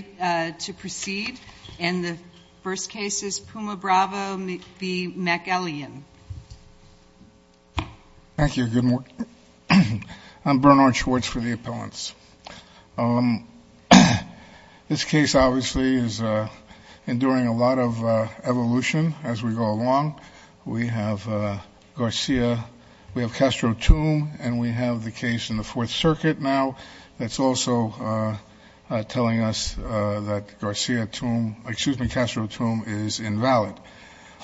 Thank you. I'm Bernard Schwartz for the appellants. This case obviously is enduring a lot of evolution as we go along. We have Garcia, we have Castro Tum, and we have the case in the Fourth Circuit now that's also telling us that Castro Tum is invalid.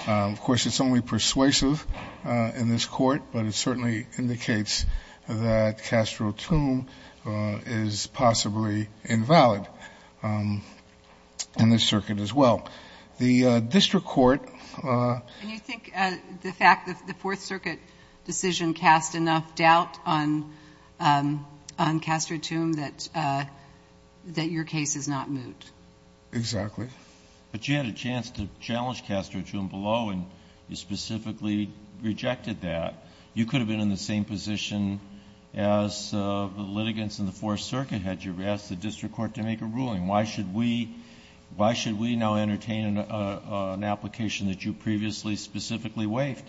Of course, it's only persuasive in this court, but it certainly indicates that Castro Tum is possibly invalid in this circuit as well. The District Court And you think the fact that the Fourth Circuit decision cast enough doubt on Castro Tum that your case is not moot? Exactly. But you had a chance to challenge Castro Tum below, and you specifically rejected that. You could have been in the same position as the litigants in the Fourth Circuit had. You Why should we now entertain an application that you previously specifically waived?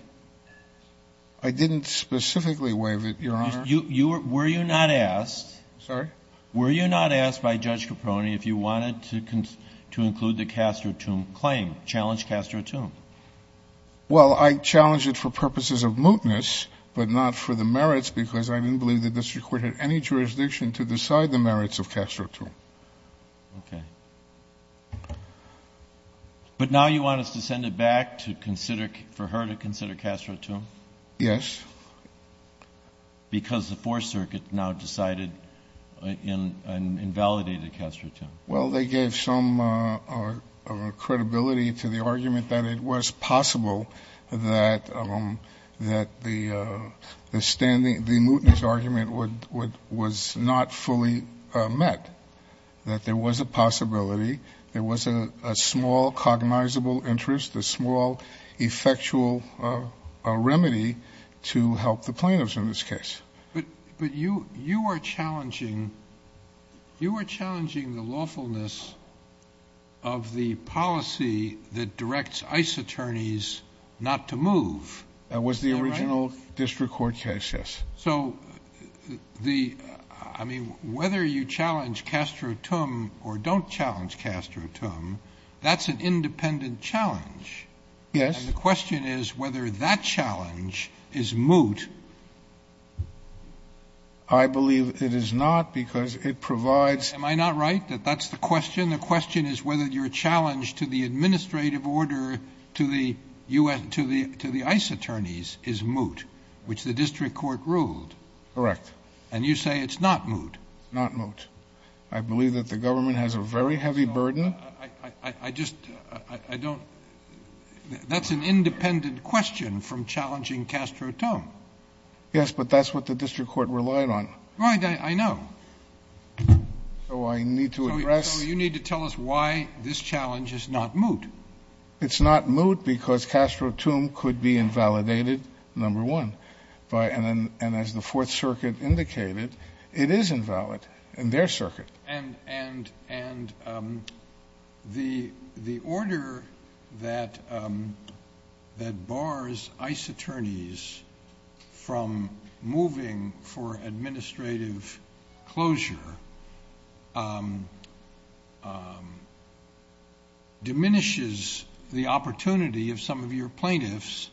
I didn't specifically waive it, Your Honor. Were you not asked by Judge Caproni if you wanted to include the Castro Tum claim, challenge Castro Tum? Well, I challenged it for purposes of mootness, but not for the merits because I didn't believe the District Court had any jurisdiction to decide the merits of Castro Tum. Okay. But now you want us to send it back for her to consider Castro Tum? Yes. Because the Fourth Circuit now decided and invalidated Castro Tum. Well, they gave some credibility to the argument that it was possible that the standing mootness argument was not fully met, that there was a possibility, there was a small cognizable interest, a small effectual remedy to help the plaintiffs in this case. But you are challenging the lawfulness of the policy that directs ICE attorneys not to move. Is that right? That was the original District Court case, yes. So whether you challenge Castro Tum or don't challenge Castro Tum, that's an independent challenge. Yes. And the question is whether that challenge is moot. I believe it is not because it provides... Am I not right that that's the question? The question is whether your challenge to the administrative order to the ICE attorneys is moot, which the District Court ruled. Correct. And you say it's not moot. Not moot. I believe that the government has a very heavy burden. That's an independent question from challenging Castro Tum. Yes, but that's what the District Court relied on. Right, I know. So I need to address... So you need to tell us why this challenge is not moot. It's not moot because Castro Tum could be invalidated, number one, and as the Fourth Circuit indicated, it is invalid in their circuit. And the order that bars ICE attorneys from moving for administrative closure diminishes the opportunity of some of your plaintiffs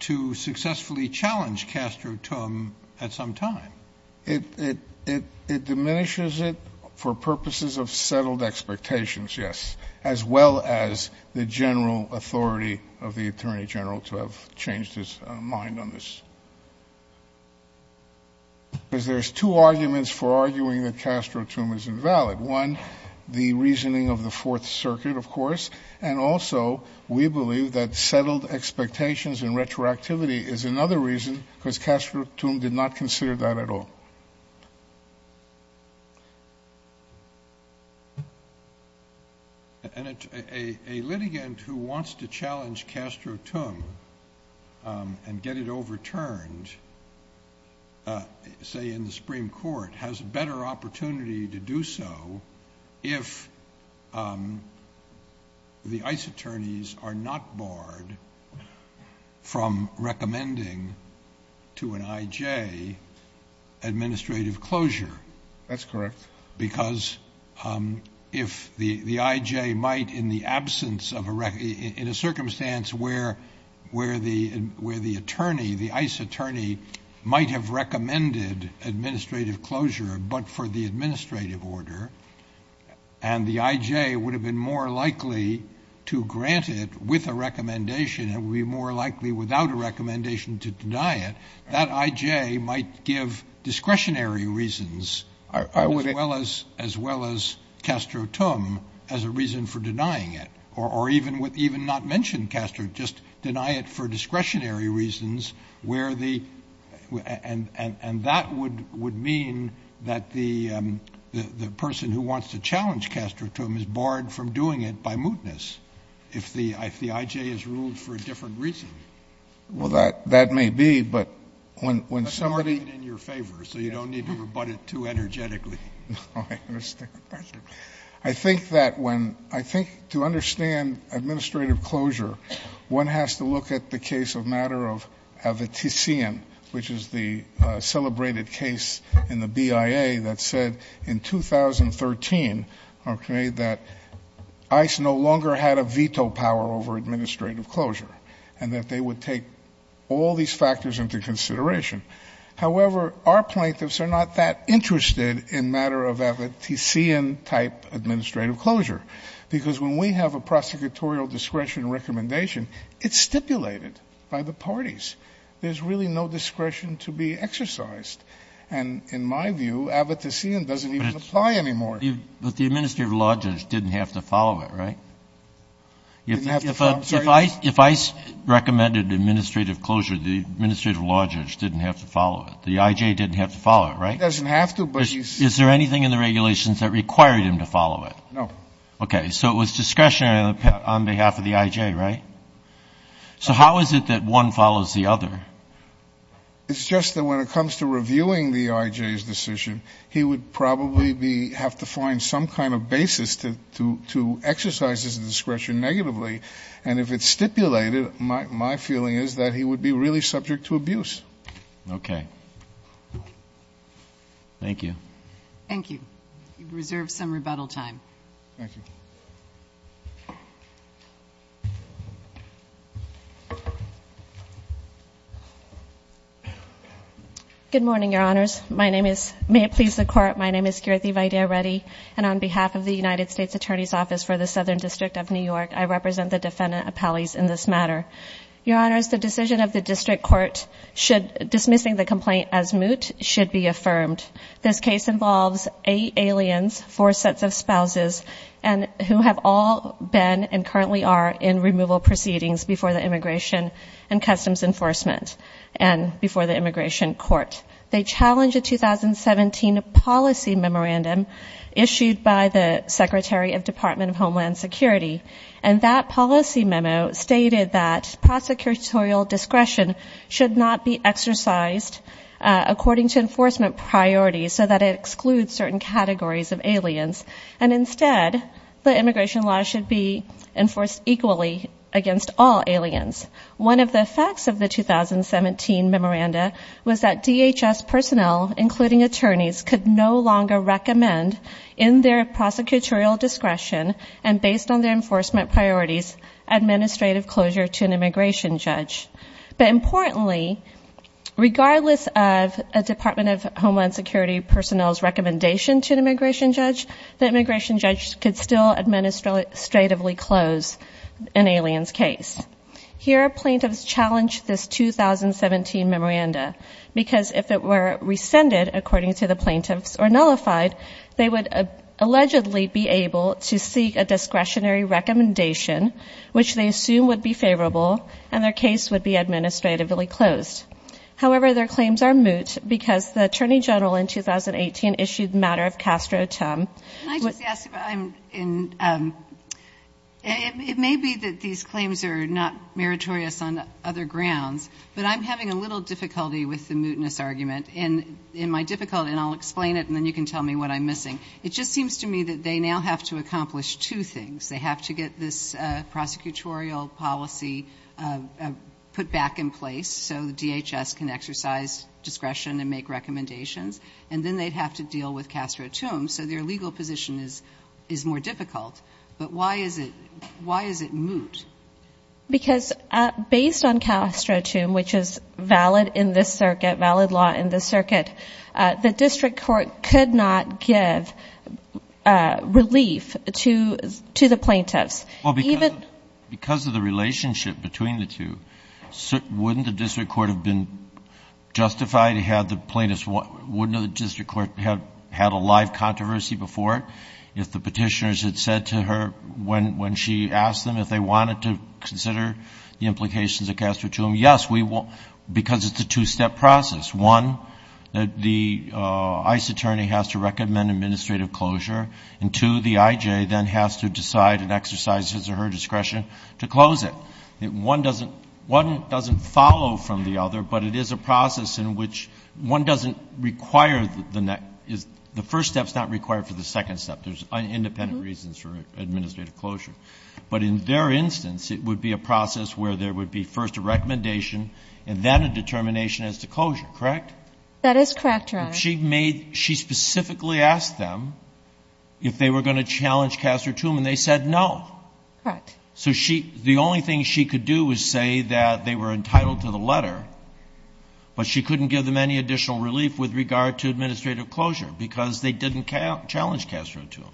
to successfully challenge Castro Tum at some time. It diminishes it for purposes of settled expectations, yes, as well as the general authority of the Attorney General to have changed his mind on this. Because there's two arguments for arguing that Castro Tum is invalid. One, the reasoning of the Fourth Circuit, of course, and also we believe that settled expectations and retroactivity is another reason because Castro Tum did not consider that at all. And a litigant who wants to challenge Castro Tum and get it overturned, say in the Supreme Court, has a better opportunity to do so if the ICE attorneys are not barred from recommending to an I.J. administrative closure. That's correct. Because if the I.J. might, in the absence of a—in a circumstance where the attorney, the ICE attorney, might have recommended administrative closure but for the administrative order, and the I.J. would have been more likely to grant it with a recommendation, it would be more likely without a recommendation to deny it, that I.J. might give discretionary reasons as well as Castro Tum as a reason for denying it, or even not mention Castro, just deny it for discretionary reasons where the—and that would mean that the person who wants to challenge Castro Tum is barred from doing it by mootness. If the I.J. has ruled for a different reason. Well, that may be, but when somebody— That's already in your favor, so you don't need to rebut it too energetically. No, I understand. I think that when—I think to understand administrative closure, one has to look at the case of matter of Avetisian, which is the celebrated case in the BIA that said in 2013, okay, that ICE no longer had a veto power over administrative closure, and that they would take all these factors into consideration. However, our plaintiffs are not that interested in matter of Avetisian type administrative closure, because when we have a prosecutorial discretion recommendation, it's stipulated by the parties. There's really no discretion to be exercised. And in my view, Avetisian doesn't even apply anymore. But the administrative law judge didn't have to follow it, right? Didn't have to follow, sorry? If ICE recommended administrative closure, the administrative law judge didn't have to follow it. The I.J. didn't have to follow it, right? He doesn't have to, but he's— Is there anything in the regulations that required him to follow it? No. Okay. So it was discretionary on behalf of the I.J., right? So how is it that one follows the other? It's just that when it comes to reviewing the I.J.'s decision, he would probably have to find some kind of basis to exercise his discretion negatively. And if it's stipulated, my feeling is that he would be really subject to abuse. Okay. Thank you. Thank you. Thank you. Thank you. Thank you. Good morning, Your Honors. My name is—may it please the Court—my name is Kirthi Vaidya Reddy. And on behalf of the United States Attorney's Office for the Southern District of New York, I represent the defendant appellees in this matter. Your Honors, the decision of the district court dismissing the complaint as moot should be affirmed. This case involves eight aliens, four sets of spouses who have all been and currently are in removal proceedings before the Immigration and Customs Enforcement and before the Immigration Court. They challenge a 2017 policy memorandum issued by the Secretary of Department of Homeland Security. And that policy memo stated that prosecutorial discretion should not be exercised according to enforcement priorities so that it excludes certain categories of aliens. And instead, the immigration law should be enforced equally against all aliens. One of the effects of the 2017 memoranda was that DHS personnel, including attorneys, could no longer recommend, in their prosecutorial discretion and based on their enforcement priorities, administrative closure to an immigration judge. But importantly, regardless of a Department of Homeland Security personnel's recommendation to an immigration judge, the immigration judge could still administratively close an alien's case. Here, plaintiffs challenge this 2017 memoranda because if it were rescinded, according to the plaintiffs, or nullified, they would allegedly be able to seek a discretionary recommendation which they assume would be favorable and their case would be administratively closed. However, their claims are moot because the Attorney General in 2018 issued the matter of Castro-Tum. Can I just ask, it may be that these claims are not meritorious on other grounds, but I'm having a little difficulty with the mootness argument. In my difficulty, and I'll explain it and then you can tell me what I'm missing, it just seems to me that they now have to accomplish two things. They have to get this prosecutorial policy put back in place so the DHS can exercise discretion and make recommendations. And then they'd have to deal with Castro-Tum, so their legal position is more difficult. But why is it moot? Because based on Castro-Tum, which is valid in this circuit, valid law in this circuit, the district court could not give relief to the plaintiffs. Because of the relationship between the two, wouldn't the district court have been justified to have the plaintiffs, wouldn't the district court have had a live controversy before? If the petitioners had said to her when she asked them if they wanted to consider the implications of Castro-Tum, yes, we will, because it's a two-step process. One, the ICE attorney has to recommend administrative closure, and two, the IJ then has to decide and exercise his or her discretion to close it. One doesn't follow from the other, but it is a process in which one doesn't require the next, the first step's not required for the second step. There's independent reasons for administrative closure. But in their instance, it would be a process where there would be first a recommendation and then a determination as to closure, correct? That is correct, Your Honor. If she made, if she specifically asked them if they were going to challenge Castro-Tum and they said no. Correct. So she, the only thing she could do was say that they were entitled to the letter, but she couldn't give them any additional relief with regard to administrative closure because they didn't challenge Castro-Tum.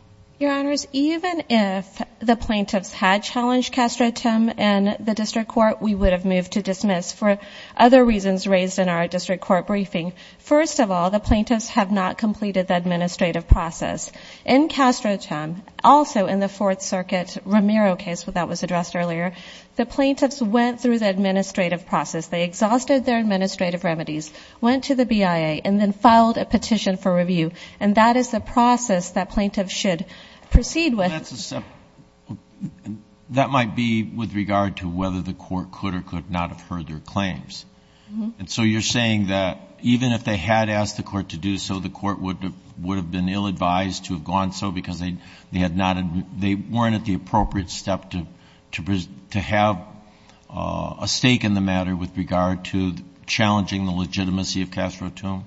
Your Honors, even if the plaintiffs had challenged Castro-Tum in the district court, we would have moved to dismiss for other reasons raised in our district court briefing. First of all, the plaintiffs have not completed the administrative process. In Castro-Tum, also in the Fourth Circuit Romero case that was addressed earlier, the plaintiffs went through the administrative process. They exhausted their administrative remedies, went to the BIA, and then filed a petition for review. And that is the process that plaintiffs should proceed with. So that's a step, that might be with regard to whether the court could or could not have heard their claims. And so you're saying that even if they had asked the court to do so, the court would have been ill-advised to have gone so because they had not, they weren't at the appropriate step to have a stake in the matter with regard to challenging the legitimacy of Castro-Tum?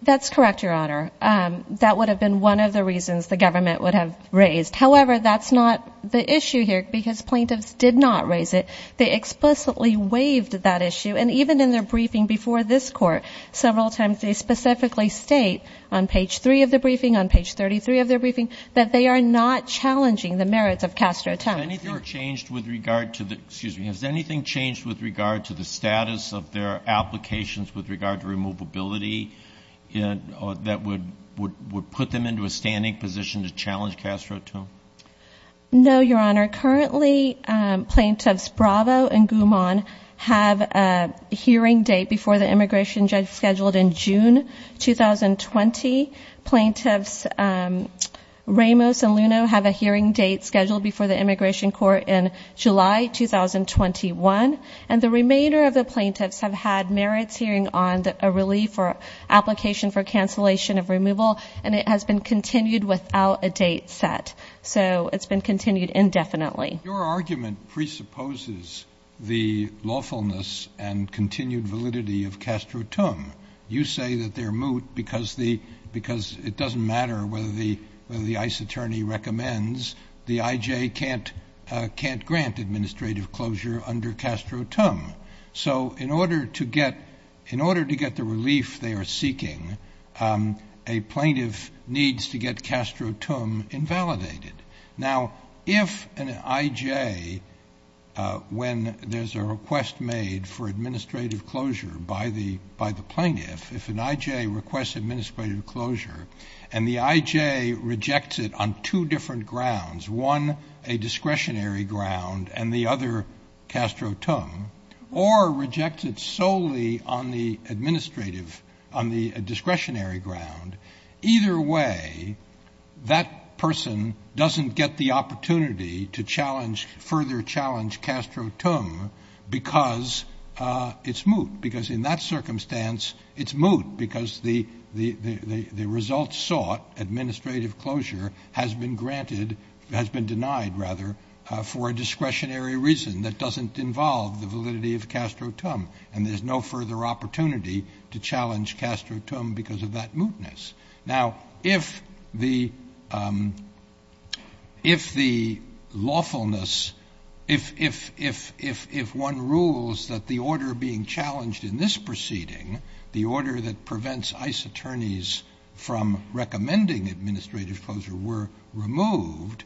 That's correct, Your Honor. That would have been one of the reasons the government would have raised. However, that's not the issue here because plaintiffs did not raise it. They explicitly waived that issue. And even in their briefing before this Court, several times they specifically state on page three of their briefing, on page 33 of their briefing, that they are not challenging the merits of Castro-Tum. Has anything changed with regard to the, excuse me, has anything changed with regard to the status of their applications with regard to removability that would put them into a standing position to challenge Castro-Tum? No, Your Honor. Currently, plaintiffs Bravo and Goumon have a hearing date before the immigration judge scheduled in June 2020. Plaintiffs Ramos and Luno have a hearing date scheduled before the immigration court in July 2021. And the remainder of the plaintiffs have had merits hearing on a relief or application for cancellation of removal. And it has been continued without a date set. So it's been continued indefinitely. Your argument presupposes the lawfulness and continued validity of Castro-Tum. You say that they're moot because it doesn't matter whether the ICE attorney recommends the IJ can't grant administrative closure under Castro-Tum. So in order to get the relief they are seeking, a plaintiff needs to get Castro-Tum invalidated. Now if an IJ, when there's a request made for administrative closure by the plaintiff, if an IJ requests administrative closure and the IJ rejects it on two different grounds, one a discretionary ground and the other Castro-Tum, or rejects it solely on the administrative, on the discretionary ground, either way that person doesn't get the opportunity to challenge, further challenge Castro-Tum because it's moot. Because in that circumstance it's moot because the result sought, administrative closure, has been granted, has been denied rather, for a discretionary reason that doesn't involve the validity of Castro-Tum. And there's no further opportunity to challenge Castro-Tum because of that mootness. Now if the lawfulness, if one rules that the order being challenged in this proceeding, the order that prevents ICE attorneys from recommending administrative closure were removed,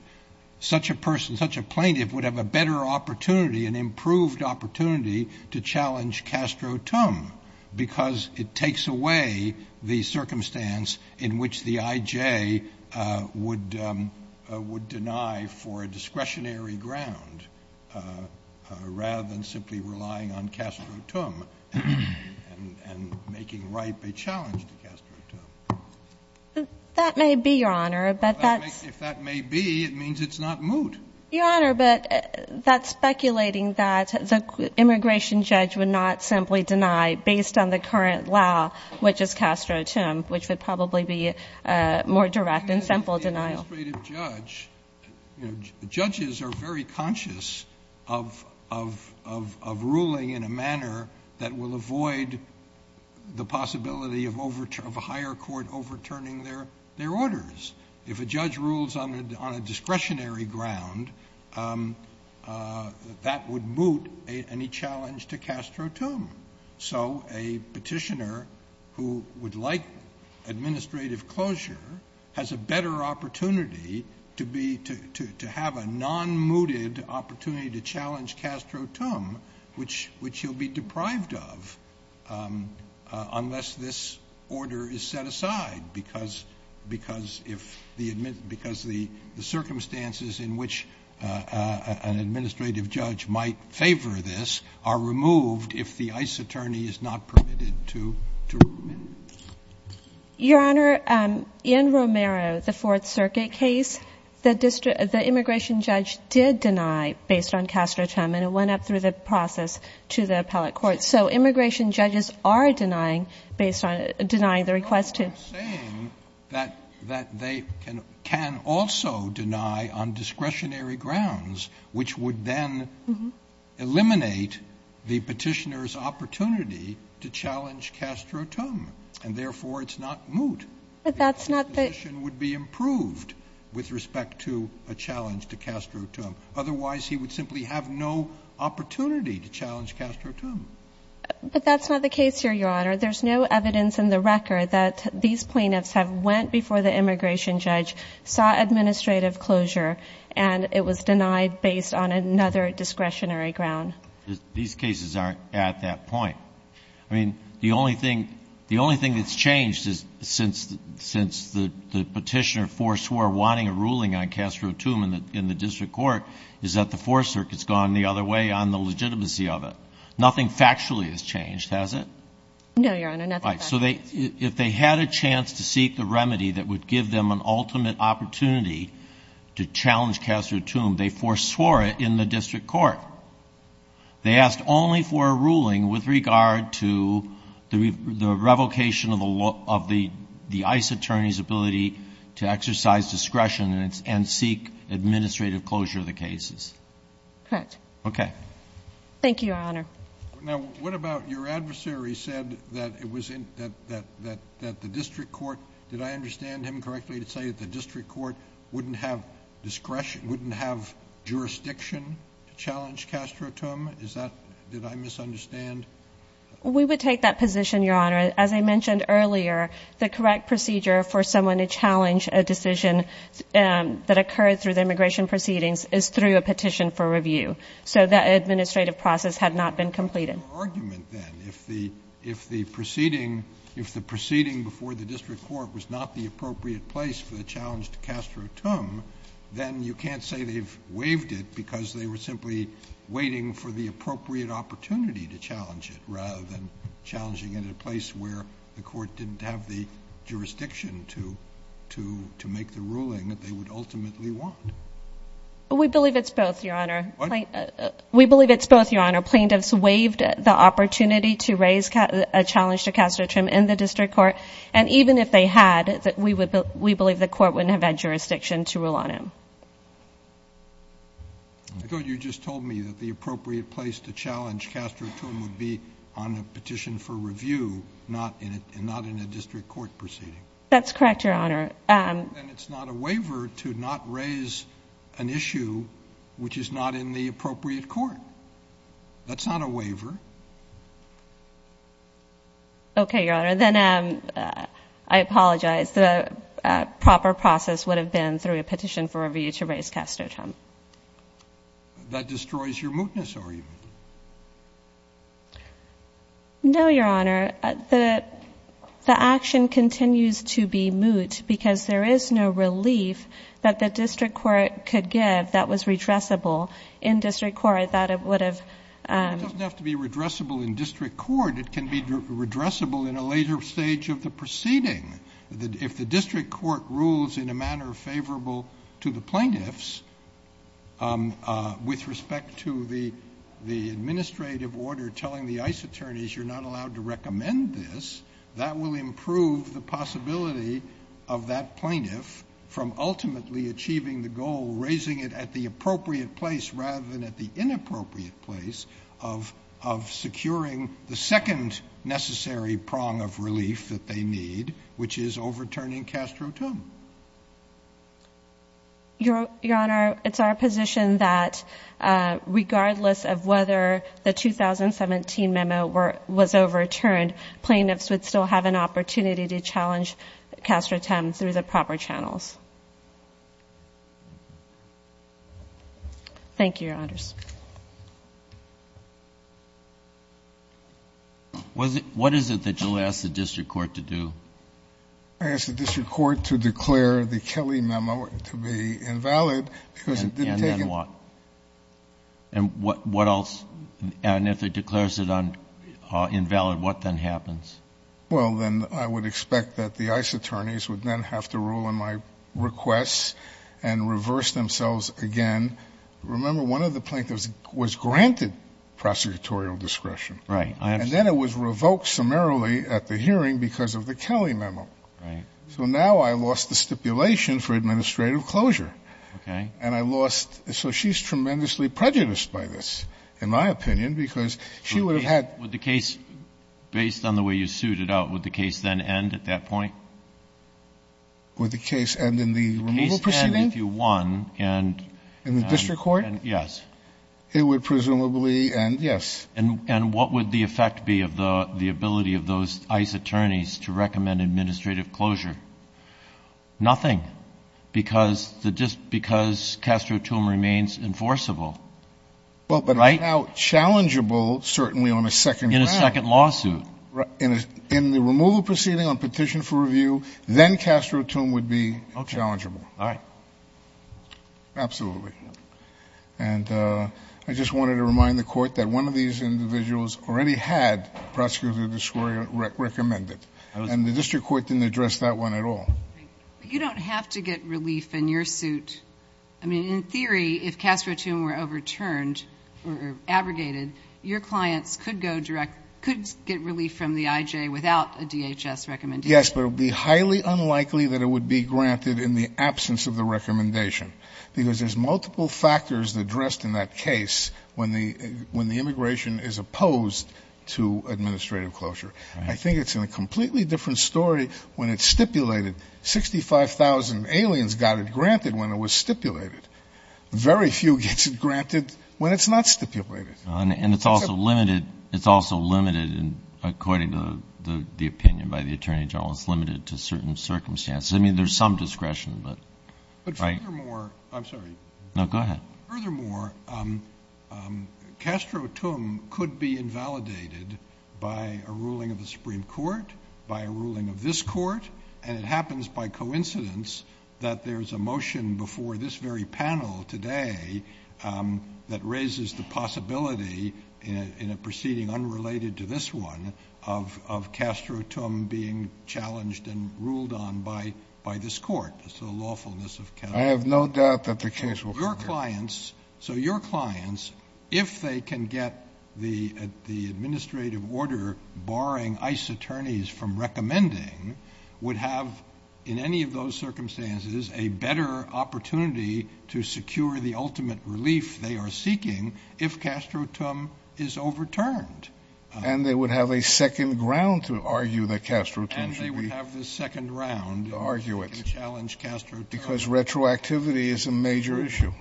such a person, such a plaintiff would have a better opportunity, an improved opportunity to challenge Castro-Tum because it takes away the circumstance in which the IJ would deny for a discretionary ground rather than simply relying on Castro-Tum and making ripe a challenge to Castro-Tum. That may be, Your Honor, but that's... If that may be, it means it's not moot. Your Honor, but that's speculating that the immigration judge would not simply deny based on the current law, which is Castro-Tum, which would probably be a more direct and simple denial. Well, an administrative judge, you know, judges are very conscious of ruling in a manner that will avoid the possibility of a higher court overturning their orders. If a judge rules on a discretionary ground, that would moot any challenge to Castro-Tum. So a petitioner who would like administrative closure has a better opportunity to be, to have a non-mooted opportunity to challenge Castro-Tum, which he'll be deprived of unless this order is set aside because the circumstances in which an administrative judge might favor this are removed if the ICE attorney is not permitted to rule. Your Honor, in Romero, the Fourth Circuit case, the immigration judge did deny based on Castro-Tum, and it went up through the process to the appellate court. So immigration judges are denying based on, denying the request to... that they can also deny on discretionary grounds, which would then eliminate the petitioner's opportunity to challenge Castro-Tum, and therefore it's not moot. But that's not the... The position would be improved with respect to a challenge to Castro-Tum. Otherwise, he would simply have no opportunity to challenge Castro-Tum. But that's not the case here, Your Honor. There's no evidence in the record that these plaintiffs have went before the immigration judge, saw administrative closure, and it was denied based on another discretionary ground. These cases aren't at that point. I mean, the only thing, the only thing that's changed is since the petitioner foreswore wanting a ruling on Castro-Tum in the district court is that the Fourth Circuit's gone the other way on the legitimacy of it. Nothing factually has changed, has it? No, Your Honor, nothing factually. Right. So they, if they had a chance to seek the remedy that would give them an ultimate opportunity to challenge Castro-Tum, they foreswore it in the district court. They asked only for a ruling with regard to the revocation of the law, of the ICE attorney's ability to exercise discretion and seek administrative closure of the cases. Correct. Okay. Thank you, Your Honor. Now, what about your adversary said that it was in, that, that, that, that the district court, did I understand him correctly to say that the district court wouldn't have discretion, wouldn't have jurisdiction to challenge Castro-Tum? Is that, did I misunderstand? We would take that position, Your Honor. As I mentioned earlier, the correct procedure for someone to challenge a decision that occurred through the immigration proceedings is through a petition for review. So that administrative process had not been completed. But what about the argument then? If the, if the proceeding, if the proceeding before the district court was not the appropriate place for the challenge to Castro-Tum, then you can't say they've waived it because they were simply waiting for the appropriate opportunity to challenge it rather than challenging it at a place where the court didn't have the jurisdiction to, to, to make the ruling that they would ultimately want. We believe it's both, Your Honor. What? We believe it's both, Your Honor. Plaintiffs waived the opportunity to raise a challenge to Castro-Tum in the district court. And even if they had, we would, we believe the court wouldn't have had jurisdiction to rule on him. I thought you just told me that the appropriate place to challenge Castro-Tum would be on a petition for review, not in a, not in a district court proceeding. That's correct, Your Honor. And it's not a waiver to not raise an issue which is not in the appropriate court. That's not a waiver. Okay, Your Honor. Then, um, uh, I apologize, the, uh, proper process would have been through a petition for review to raise Castro-Tum. That destroys your mootness argument. No, Your Honor. The, the action continues to be moot because there is no relief that the district court could give that was redressable. In district court, that would have, um, It doesn't have to be redressable in district court. It can be redressable in a later stage of the proceeding. If the district court rules in a manner favorable to the plaintiffs, um, uh, with respect to the, the administrative order telling the ICE attorneys, you're not allowed to recommend this, that will improve the possibility of that plaintiff from ultimately achieving the goal, raising it at the appropriate place rather than at the inappropriate place of, of securing the second necessary prong of relief that they need, which is overturning Castro-Tum. Your, Your Honor, it's our position that, uh, regardless of whether the 2017 memo were, was overturned, plaintiffs would still have an opportunity to challenge Castro-Tum through the proper channels. Thank you, Your Honors. Was it, what is it that you'll ask the district court to do? I ask the district court to declare the Kelly memo to be invalid because it didn't take it. And then what? And what, what else? And if it declares it on, uh, invalid, what then happens? Well, then I would expect that the ICE attorneys would then have to rule on my requests and reverse themselves again. Remember, one of the plaintiffs was granted prosecutorial discretion. Right. And then it was revoked summarily at the hearing because of the Kelly memo. Right. So now I lost the stipulation for administrative closure. Okay. And I lost, so she's tremendously prejudiced by this, in my opinion, because she would have had. Would the case, based on the way you suited out, would the case then end at that point? Would the case end in the removal proceeding? The case end if you won and, and, and, yes. In the district court? It would presumably end, yes. And, and what would the effect be of the, the ability of those ICE attorneys to recommend administrative closure? Nothing. Because the, just because Castro-Tomb remains enforceable. Well, but how challengeable, certainly on a second round. In a second lawsuit. Right. In a, in the removal proceeding on petition for review, then Castro-Tomb would be challengeable. Okay. All right. Absolutely. And I just wanted to remind the court that one of these individuals already had prosecutorial discretion recommended. And the district court didn't address that one at all. You don't have to get relief in your suit. I mean, in theory, if Castro-Tomb were overturned or abrogated, your clients could go direct, could get relief from the IJ without a DHS recommendation. Yes, but it would be highly unlikely that it would be granted in the absence of the recommendation. Because there's multiple factors addressed in that case when the, when the immigration is opposed to administrative closure. I think it's in a completely different story when it's stipulated, 65,000 aliens got it granted when it was stipulated. Very few gets it granted when it's not stipulated. And it's also limited. It's also limited in, according to the opinion by the attorney general, it's limited to certain circumstances. I mean, there's some discretion, but. But furthermore, I'm sorry. No, go ahead. Furthermore, Castro-Tomb could be invalidated by a ruling of the Supreme Court, by a ruling of this court. And it happens by coincidence that there's a motion before this very panel today that raises the possibility in a proceeding unrelated to this one of, of Castro-Tomb being challenged and ruled on by, by this court. So lawfulness of Castro-Tomb. I have no doubt that the case will prevail. So your clients, if they can get the, the administrative order barring ICE attorneys from recommending, would have, in any of those circumstances, a better opportunity to secure the ultimate relief they are seeking if Castro-Tomb is overturned. And they would have a second round to argue that Castro-Tomb should be. And they would have the second round. And argue it. To challenge Castro-Tomb. Because retroactivity is a major issue.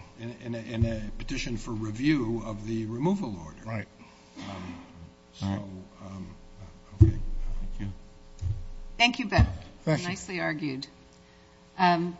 In a petition for review of the removal order. Right. So, okay. Thank you. Thank you. Nicely argued. Thank you.